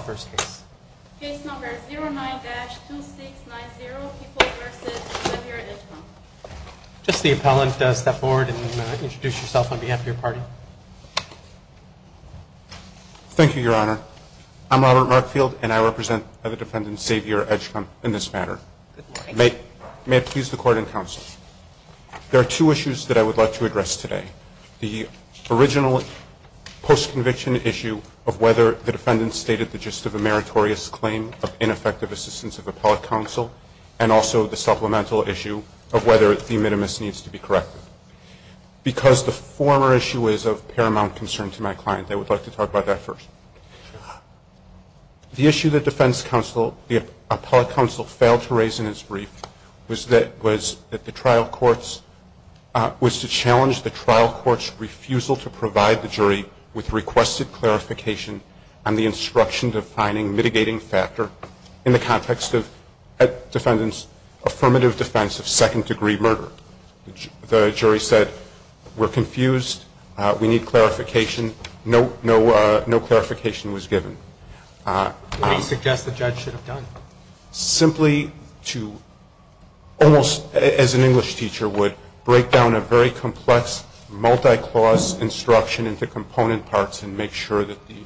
on behalf of your party. Thank you, Your Honor. I'm Robert Markfield, and I represent the defendant, Xavier Edgecombe, in this matter. May it please the Court and Counsel, there are two issues that I would like to address today. The original post-conviction issue of whether the defendant stated the gist of a meritorious claim of ineffective assistance of appellate counsel, and also the supplemental issue of whether the minimus needs to be corrected. Because the former issue is of paramount concern to my client, I would like to talk about that first. The issue that defense counsel, the appellate counsel, failed to raise in his brief was that the trial court's, was to challenge the trial court's refusal to provide the jury with requested clarification on the instruction-defining mitigating factor in the context of the defendant's affirmative defense of second-degree murder. The jury said, we're confused, we need clarification. No clarification was given. What do you suggest the judge should have done? Simply to, almost as an English teacher would, break down a very complex, multi-clause instruction into component parts and make sure that the...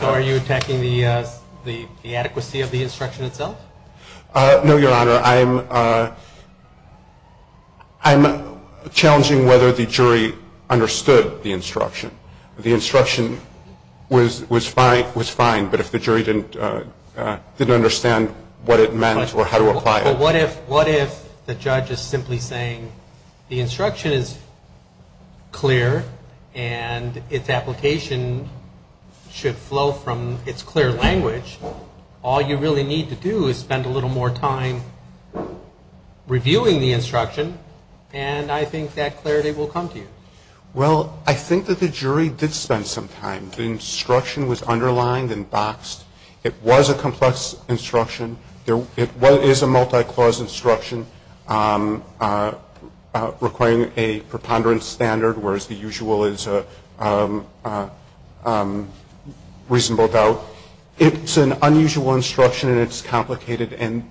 So are you attacking the adequacy of the instruction itself? No, Your Honor. I'm challenging whether the jury understood the instruction. The instruction was fine, but if the jury didn't understand what it meant or how to do it, I'm just simply saying, the instruction is clear and its application should flow from its clear language. All you really need to do is spend a little more time reviewing the instruction and I think that clarity will come to you. Well, I think that the jury did spend some time. The instruction was underlined and boxed. It was a complex instruction. It is a multi-clause instruction requiring a preponderance standard, whereas the usual is a reasonable doubt. It's an unusual instruction and it's complicated and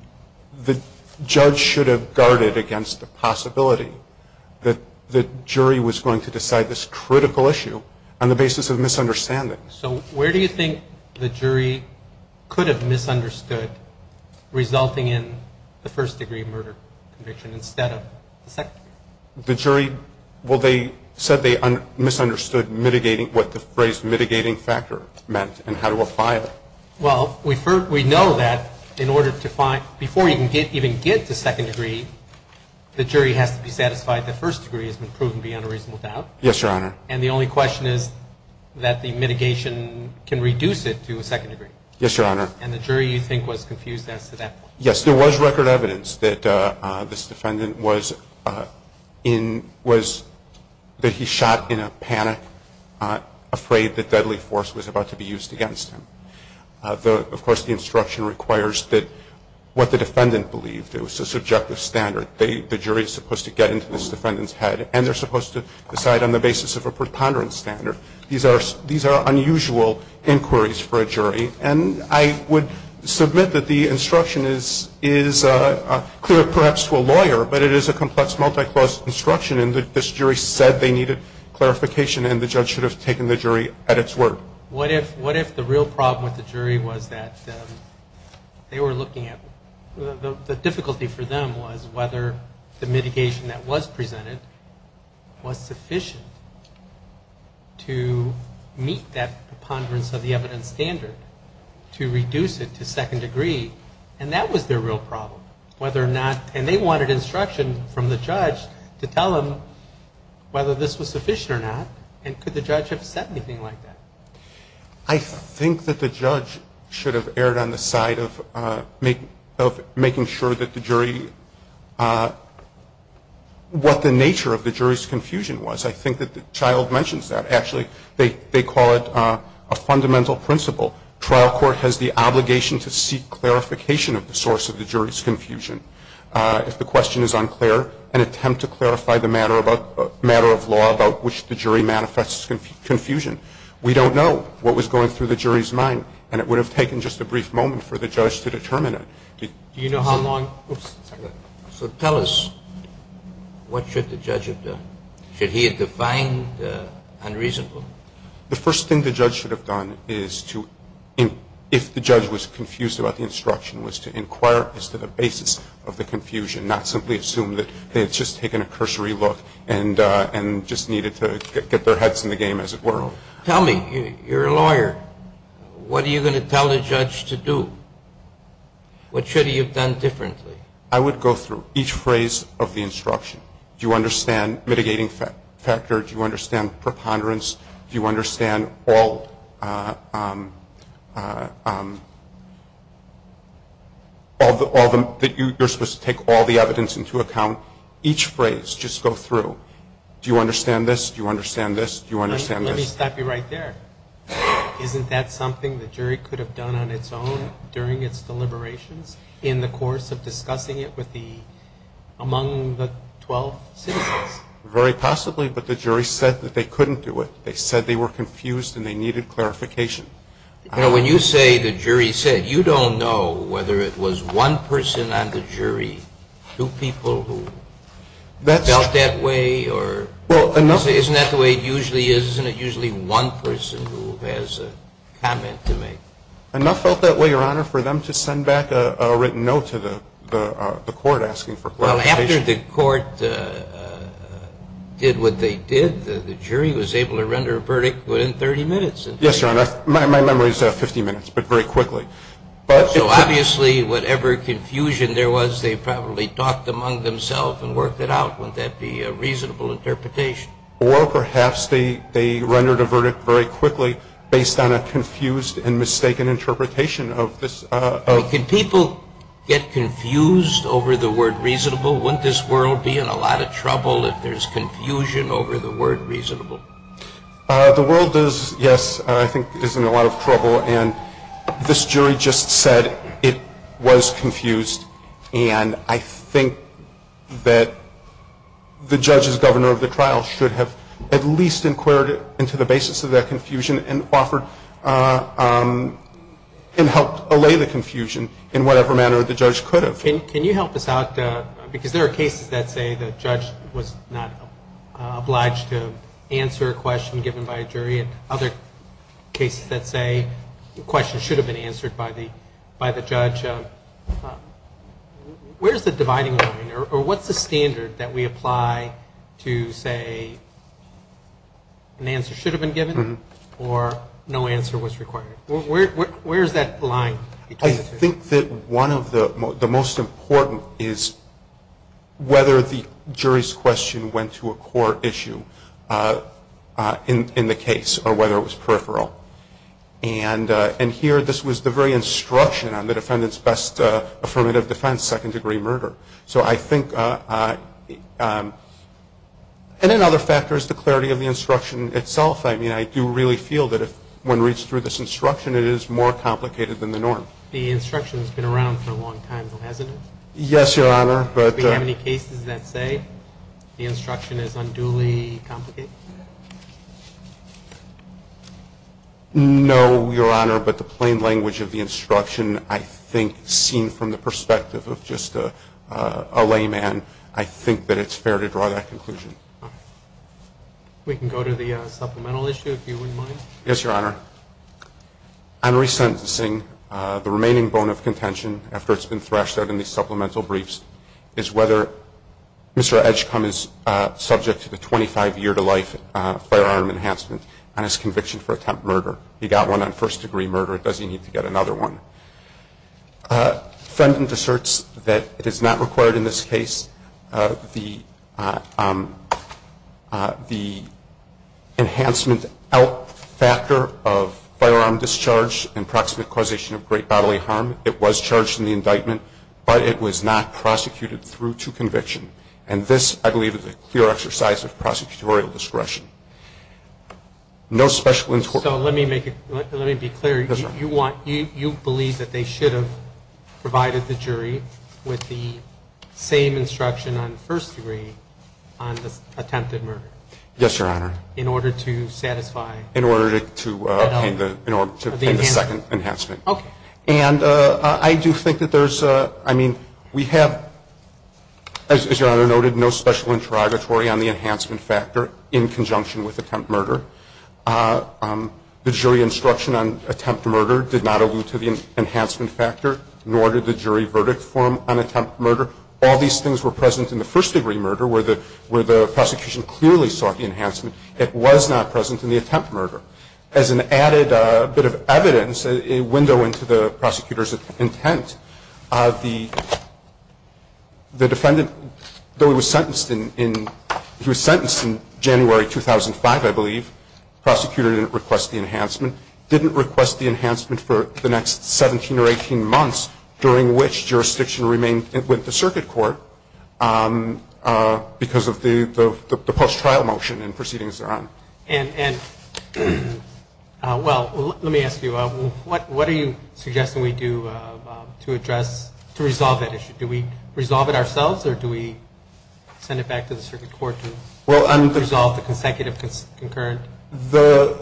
the judge should have guarded against the possibility that the jury was going to decide this critical issue on the basis of misunderstanding. So where do you think the jury could have misunderstood resulting in the first degree murder conviction instead of the second degree? The jury, well, they said they misunderstood mitigating, what the phrase mitigating factor meant and how to apply it. Well, we know that in order to find, before you can even get to second degree, the jury has to be satisfied that first degree has been proven to be unreasonable doubt. Yes, Your Honor. And the only question is that the mitigation can reduce it to a second degree. Yes, there was record evidence that this defendant was in, was that he shot in a panic, afraid that deadly force was about to be used against him. Of course, the instruction requires that what the defendant believed, it was a subjective standard. The jury is supposed to get into this defendant's head and they're supposed to decide on the basis of a preponderance standard. These are unusual inquiries for a jury and I would submit that the instruction is clear perhaps to a lawyer, but it is a complex multi-clause instruction and this jury said they needed clarification and the judge should have taken the jury at its word. What if the real problem with the jury was that they were looking at, the difficulty for them was whether the mitigation that was presented was sufficient to meet that preponderance of the evidence standard, to reduce it to second degree, and that was their real problem, whether or not, and they wanted instruction from the judge to tell them whether this was sufficient or not, and could the judge have said anything like that? I think that the judge should have erred on the side of making sure that the jury, what the nature of the jury, was not confused with the judgmental principle. Trial court has the obligation to seek clarification of the source of the jury's confusion. If the question is unclear, an attempt to clarify the matter of law about which the jury manifests confusion. We don't know what was going through the jury's mind and it would have taken just a brief moment for the judge to determine it. So tell us, what should the judge have done? Should he have defined unreasonable? The first thing the judge should have done is to, if the judge was confused about the instruction, was to inquire as to the basis of the confusion, not simply assume that they had just taken a cursory look and just needed to get their heads in the game, as it were. Tell me, you're a lawyer. What are you going to tell the judge to do? What should he have done differently? I would go through each phrase of the instruction. Do you understand mitigating factor? Do you understand preponderance? Do you understand all the, that you're supposed to take all the evidence into account? Each phrase, just go through. Do you understand this? Do you understand this? Do you understand this? Let me stop you right there. Isn't that something the jury could have done on its own during its deliberations in the course of discussing it with the, among the 12 citizens? Very possibly, but the jury said that they couldn't do it. They said they were confused and they needed clarification. Now, when you say the jury said, you don't know whether it was one person on the jury, two people who felt that way, or isn't that the way it usually is? Isn't it usually one person who has a comment to make? Enough felt that way, Your Honor, for them to send back a written note to the court asking for clarification. Well, after the court did what they did, the jury was able to render a verdict within 30 minutes. Yes, Your Honor. My memory is 50 minutes, but very quickly. So obviously, whatever confusion there was, they probably talked among themselves and worked it out. Wouldn't that be a reasonable interpretation? Or perhaps they rendered a verdict very quickly based on a confused and mistaken interpretation of this. Could people get confused over the word reasonable? Wouldn't this world be in a lot of trouble if there's confusion over the word reasonable? The world is, yes, I think is in a lot of trouble. And this jury just said it was confused. And I think that the judge as governor of the trial should have at least inquired into the basis of that confusion and offered and helped allay the confusion in whatever manner the judge could have. Can you help us out? Because there are cases that say the judge was not obliged to answer a question given by a jury, and other cases that say questions should have been answered by the judge. Where's the dividing line? Or what's the standard that we apply to say an answer should have been given or no answer was required? Where's that line? I think that one of the most important is whether the jury's question went to a core issue in the case or whether it was peripheral. And here this was the very instruction on the defendant's best affirmative defense, second degree murder. So I think, and in other factors, the clarity of the instruction itself. I mean, I do really feel that if one reads through this instruction, it is more complicated than the norm. The instruction has been around for a long time, hasn't it? Yes, Your Honor, but Do we have any cases that say the instruction is unduly complicated? No, Your Honor, but the plain language of the instruction, I think, seen from the perspective of just a layman, I think that it's fair to draw that conclusion. We can go to the supplemental issue, if you wouldn't mind. Yes, Your Honor. On resentencing, the remaining bone of contention, after it's been thrashed out in the supplemental briefs, is whether Mr. Edgecumbe is subject to the 25 year to life sentence of firearm enhancement on his conviction for attempt murder. He got one on first degree murder. Does he need to get another one? The defendant asserts that it is not required in this case. The enhancement out factor of firearm discharge and proximate causation of great bodily harm, it was charged in the indictment, but it was not prosecuted through to conviction. And this, I believe, is a clear exercise of prosecutorial discretion. No special instruction. So let me be clear. You believe that they should have provided the jury with the same instruction on first degree on the attempted murder? Yes, Your Honor. In order to satisfy? In order to obtain the second enhancement. Okay. And I do think that there's, I mean, we have, as Your Honor noted, no special interrogatory on the enhancement factor in conjunction with attempt murder. The jury instruction on attempt murder did not allude to the enhancement factor, nor did the jury verdict form on attempt murder. All these things were present in the first degree murder, where the prosecution clearly sought the enhancement. It was not present in the attempt murder. As an added bit of evidence, a window into the prosecutor's intent, the defendant, though he was sentenced in January 2005, I believe, the prosecutor didn't request the enhancement, didn't request the enhancement for the next 17 or 18 months, during which jurisdiction remained with the circuit court because of the post trial motion and proceedings thereon. And, well, let me ask you, what are you suggesting we do to address, to resolve that issue? Do we resolve it ourselves or do we send it back to the circuit court to resolve the consecutive concurrent? I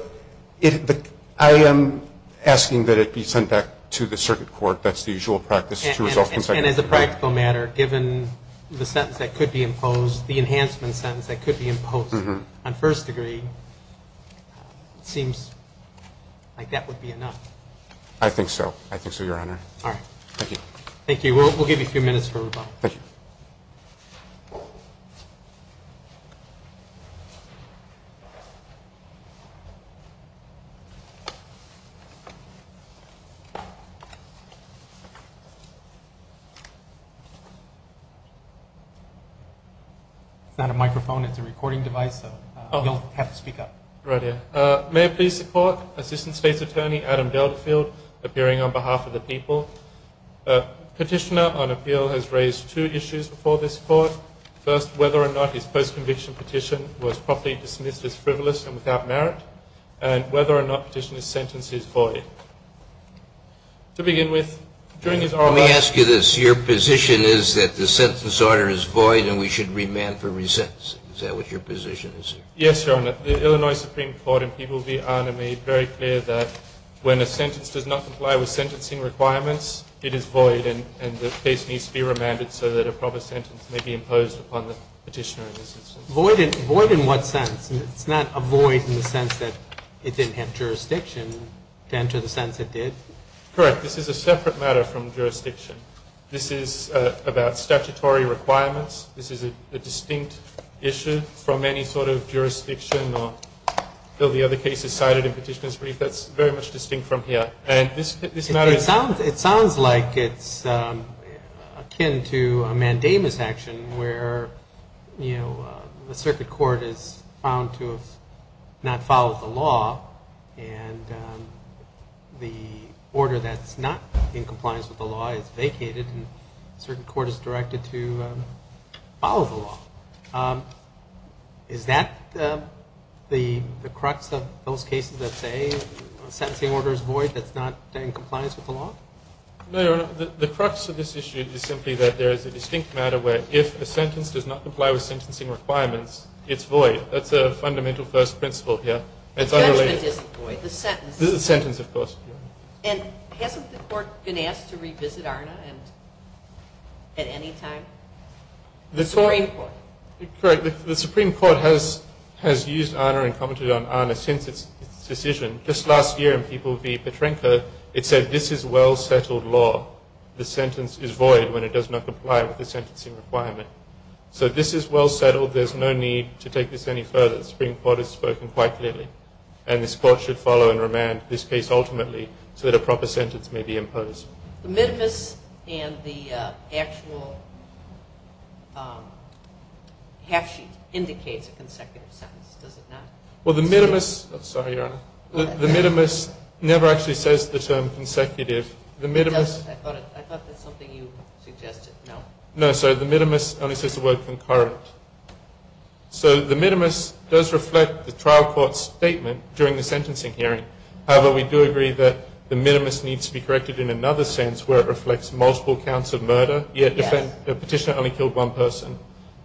am asking that it be sent back to the circuit court. That's the usual practice to resolve consecutive concurrent. And as a practical matter, given the sentence that could be imposed, the enhancement sentence that could be imposed on first degree, it seems like that would be enough. I think so. I think so, Your Honor. All right. Thank you. Thank you. We'll give you a few minutes for rebuttal. Thank you. It's not a microphone. It's a recording device, so you'll have to speak up. Right here. May I please support Assistant State's Attorney, Adam Beldefield, appearing on behalf of the people. Petitioner on appeal has raised two issues before this court. First, whether or not his post conviction petition was properly dismissed as frivolous and without merit, and whether or not petitioner's sentence is void. To begin with, during his oral argument. Let me ask you this. Your position is that the sentence order is void and we should remand for resentencing. Is that what your position is? Yes, Your Honor. The Illinois Supreme Court and people be honored made very clear that when a sentence does not comply with sentencing requirements, it is void and the case needs to be remanded so that a proper sentence may be imposed upon the petitioner. Void in what sense? It's not a void in the sense that it didn't have jurisdiction to enter the sense it did? Correct. This is a separate matter from jurisdiction. This is about statutory requirements. This is a distinct issue from any sort of jurisdiction or the other cases cited in petitioner's brief. That's very much distinct from here. It sounds like it's akin to a mandamus action where, you know, the circuit court is found to have not followed the law and the order that's not in compliance with the law is vacated and a certain court is directed to follow the law. Is that the crux of those cases that say the sentencing order is void, that's not in compliance with the law? No, Your Honor. The crux of this issue is simply that there is a distinct matter where if a sentence does not comply with sentencing requirements, it's void. That's a fundamental first principle here. Judgment isn't void. The sentence. The sentence, of course. And hasn't the court been asked to revisit ARNA at any time? The Supreme Court. Correct. The Supreme Court has used ARNA and commented on ARNA since its decision. Just last year in People v. Petrenka, it said this is well-settled law. The sentence is void when it does not comply with the sentencing requirement. So this is well-settled. There's no need to take this any further. The Supreme Court has spoken quite clearly, and this court should follow and remand this case ultimately so that a proper sentence may be imposed. The minimus and the actual half sheet indicates a consecutive sentence, does it not? Well, the minimus never actually says the term consecutive. I thought that's something you suggested. No. No, sorry. The minimus only says the word concurrent. So the minimus does reflect the trial court's statement during the sentencing hearing. However, we do agree that the minimus needs to be corrected in another sense where it reflects multiple counts of murder, yet the petitioner only killed one person.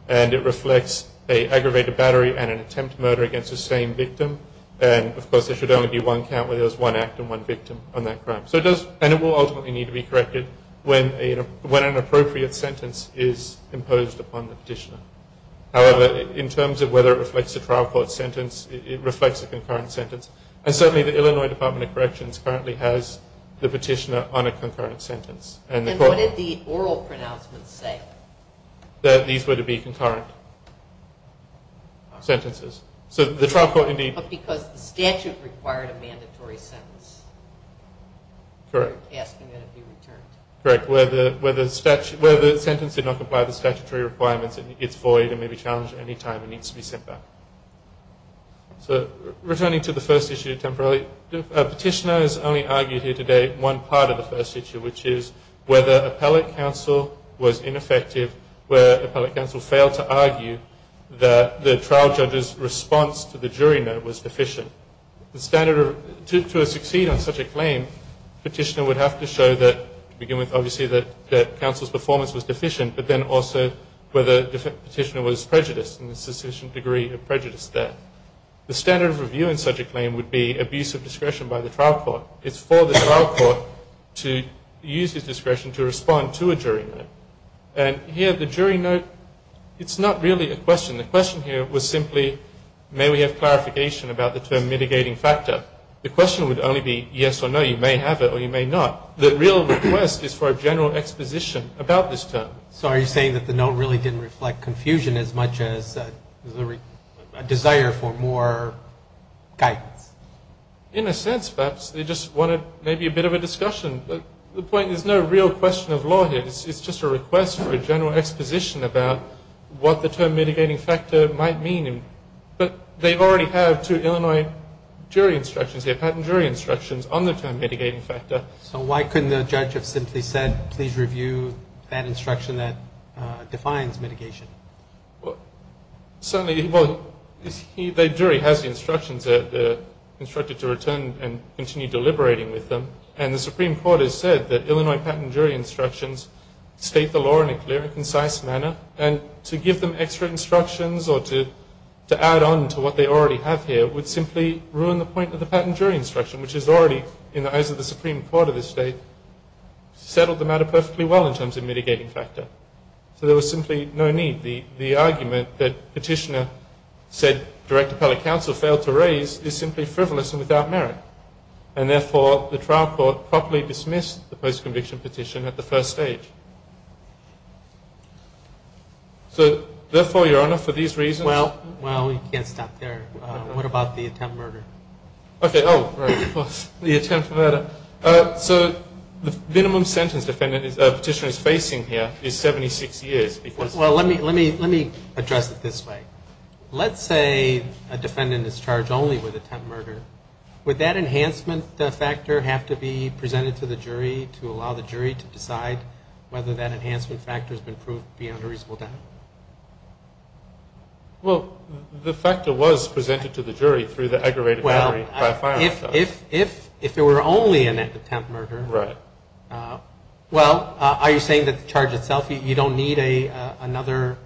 And it reflects an aggravated battery and an attempt murder against the same victim. And, of course, there should only be one count where there's one act and one victim on that crime. And it will ultimately need to be corrected when an appropriate sentence is However, in terms of whether it reflects a trial court sentence, it reflects a concurrent sentence. And certainly the Illinois Department of Corrections currently has the petitioner on a concurrent sentence. And what did the oral pronouncements say? That these were to be concurrent sentences. But because the statute required a mandatory sentence. Correct. Asking that it be returned. Correct. Where the sentence did not comply with the statutory requirements, it's void and may be challenged at any time and needs to be sent back. So returning to the first issue temporarily, a petitioner has only argued here today one part of the first issue, which is whether appellate counsel was ineffective where appellate counsel failed to argue that the trial judge's response to the jury note was deficient. To succeed on such a claim, the petitioner would have to show that, to begin with, obviously that counsel's performance was deficient, but then also whether the petitioner was prejudiced and there's sufficient degree of prejudice there. The standard of review in such a claim would be abuse of discretion by the trial court. It's for the trial court to use his discretion to respond to a jury note. And here the jury note, it's not really a question. The question here was simply may we have clarification about the term mitigating factor. The question would only be yes or no, you may have it or you may not. But the real request is for a general exposition about this term. So are you saying that the note really didn't reflect confusion as much as a desire for more guidance? In a sense, perhaps. They just wanted maybe a bit of a discussion. But the point is there's no real question of law here. It's just a request for a general exposition about what the term mitigating factor might mean. But they already have two Illinois jury instructions here, So why couldn't the judge have simply said, please review that instruction that defines mitigation? Certainly, the jury has the instructions. They're instructed to return and continue deliberating with them. And the Supreme Court has said that Illinois patent jury instructions state the law in a clear and concise manner. And to give them extra instructions or to add on to what they already have here would simply ruin the point of the patent jury instruction, which is already, in the eyes of the Supreme Court of this state, settled the matter perfectly well in terms of mitigating factor. So there was simply no need. The argument that Petitioner said Director Pelley-Counsel failed to raise is simply frivolous and without merit. And, therefore, the trial court properly dismissed the post-conviction petition at the first stage. So, therefore, Your Honor, for these reasons. Well, we can't stop there. What about the attempt murder? Okay. Oh, right. The attempt murder. So the minimum sentence Petitioner is facing here is 76 years. Well, let me address it this way. Let's say a defendant is charged only with attempt murder. Would that enhancement factor have to be presented to the jury to allow the jury to decide whether that enhancement factor has been proved beyond a reasonable doubt? Well, the factor was presented to the jury through the aggravated jury by firing. Well, if there were only an attempt murder. Right. Well, are you saying that the charge itself, you don't need another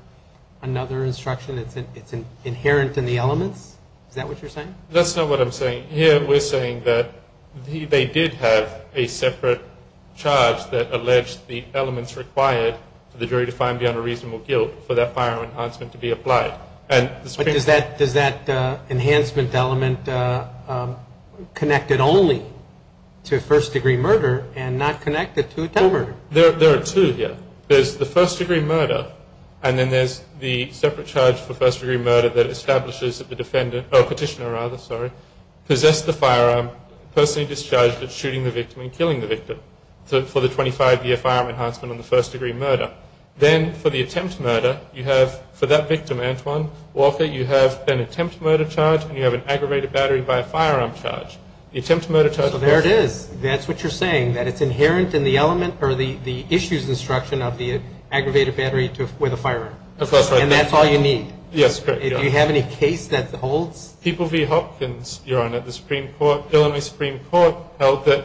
instruction? It's inherent in the elements? Is that what you're saying? That's not what I'm saying. Here we're saying that they did have a separate charge that alleged the defendant to have done a reasonable guilt for that firearm enhancement to be applied. But does that enhancement element connect it only to first-degree murder and not connect it to attempt murder? There are two here. There's the first-degree murder, and then there's the separate charge for first-degree murder that establishes that the Petitioner possessed the firearm, personally discharged it, shooting the victim and killing the victim. So for the 25-year firearm enhancement on the first-degree murder. Then for the attempt murder, you have, for that victim, Antoine Walker, you have an attempt murder charge and you have an aggravated battery by firearm charge. The attempt murder charge. So there it is. That's what you're saying, that it's inherent in the element or the issues instruction of the aggravated battery with a firearm. And that's all you need. Yes, correct. Do you have any case that holds? People v. Hopkins, Your Honor. The Supreme Court, Illinois Supreme Court held that,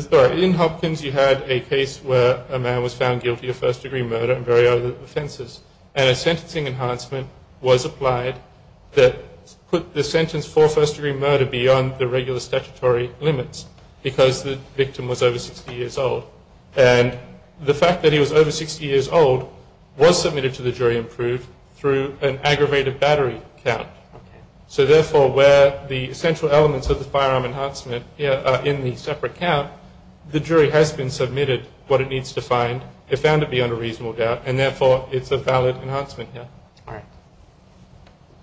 sorry, in Hopkins you had a case where a man was found guilty of first-degree murder and very other offenses. And a sentencing enhancement was applied that put the sentence for first-degree murder beyond the regular statutory limits because the victim was over 60 years old. And the fact that he was over 60 years old was submitted to the jury approved through an aggravated battery count. So, therefore, where the central elements of the firearm enhancement are in the separate count, the jury has been submitted what it needs to find. They found it beyond a reasonable doubt. And, therefore, it's a valid enhancement here. All right.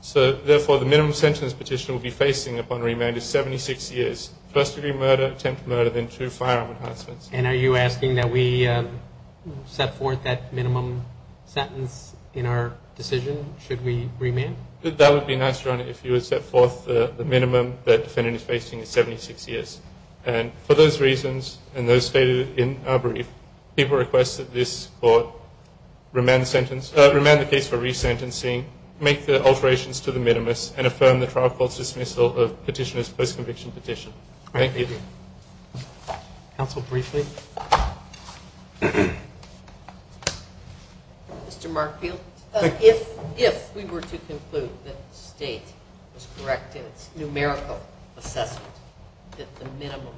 So, therefore, the minimum sentence petitioner will be facing upon remand is 76 years. First-degree murder, attempt murder, then two firearm enhancements. And are you asking that we set forth that minimum sentence in our decision should we remand? That would be nice, Your Honor, if you would set forth the minimum that defendant is facing is 76 years. And for those reasons and those stated in our brief, people request that this court remand the case for resentencing, make the alterations to the minimus, and affirm the trial court's dismissal of petitioner's post-conviction petition. Thank you. Counsel, briefly. Mr. Markfield. If we were to conclude that the state was correct in its numerical assessment that the minimum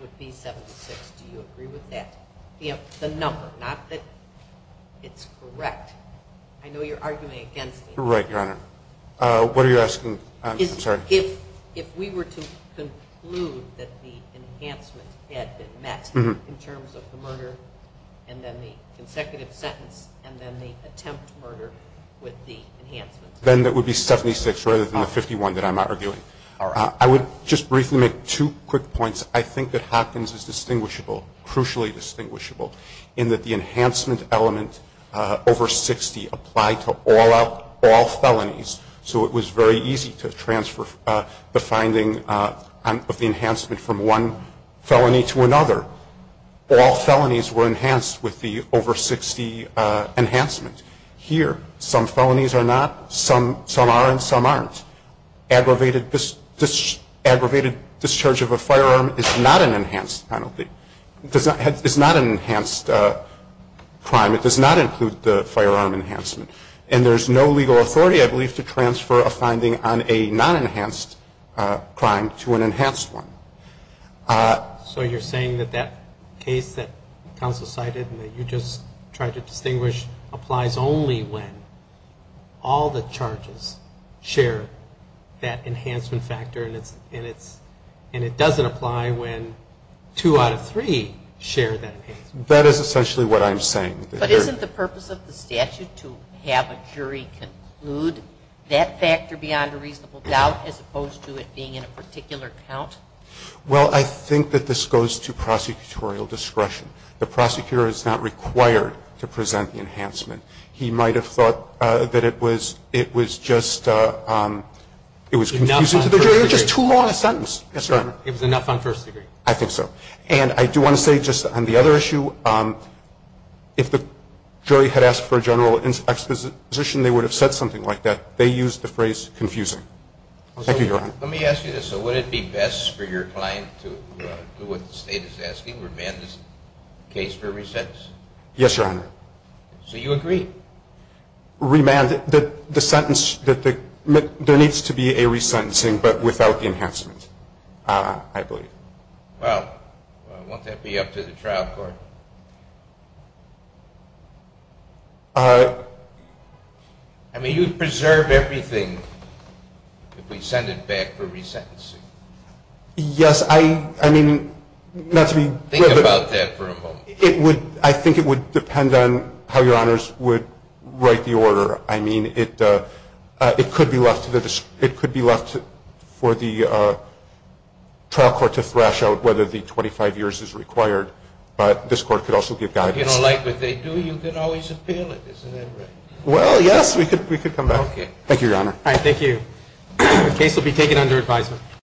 would be 76, do you agree with that? The number, not that it's correct. I know you're arguing against me. Right, Your Honor. What are you asking? I'm sorry. If we were to conclude that the enhancement had been met in terms of the sentence and then the attempt to murder with the enhancements. Then it would be 76 rather than the 51 that I'm arguing. I would just briefly make two quick points. I think that Hopkins is distinguishable, crucially distinguishable, in that the enhancement element over 60 applied to all felonies, so it was very easy to transfer the finding of the enhancement from one felony to another. All felonies were enhanced with the over 60 enhancement. Here, some felonies are not, some are, and some aren't. Aggravated discharge of a firearm is not an enhanced penalty. It's not an enhanced crime. It does not include the firearm enhancement. And there's no legal authority, I believe, to transfer a finding on a non-enhanced crime to an enhanced one. So you're saying that that case that counsel cited and that you just tried to distinguish applies only when all the charges share that enhancement factor and it doesn't apply when two out of three share that enhancement? That is essentially what I'm saying. But isn't the purpose of the statute to have a jury conclude that factor beyond a reasonable doubt as opposed to it being in a particular count? Well, I think that this goes to prosecutorial discretion. The prosecutor is not required to present the enhancement. He might have thought that it was just, it was confusing to the jury. It was just too long a sentence. It was enough on first degree. I think so. And I do want to say just on the other issue, if the jury had asked for a general exposition, they would have said something like that. They used the phrase confusing. Thank you, Your Honor. Let me ask you this. Would it be best for your client to do what the state is asking, remand this case for resentence? Yes, Your Honor. So you agree? Remand it. The sentence, there needs to be a resentencing but without the enhancement, I believe. Well, won't that be up to the trial court? I mean, you'd preserve everything if we send it back for resentencing. Yes. I mean, not to be. Think about that for a moment. It would, I think it would depend on how Your Honors would write the order. I mean, it could be left to the, it could be left for the trial court to thrash out whether the 25 years is required. But this court could also give guidance. You don't like what they do? You can always appeal it. Isn't that right? Well, yes. We could come back. Thank you, Your Honor. All right. Thank you. The case will be taken under advisement.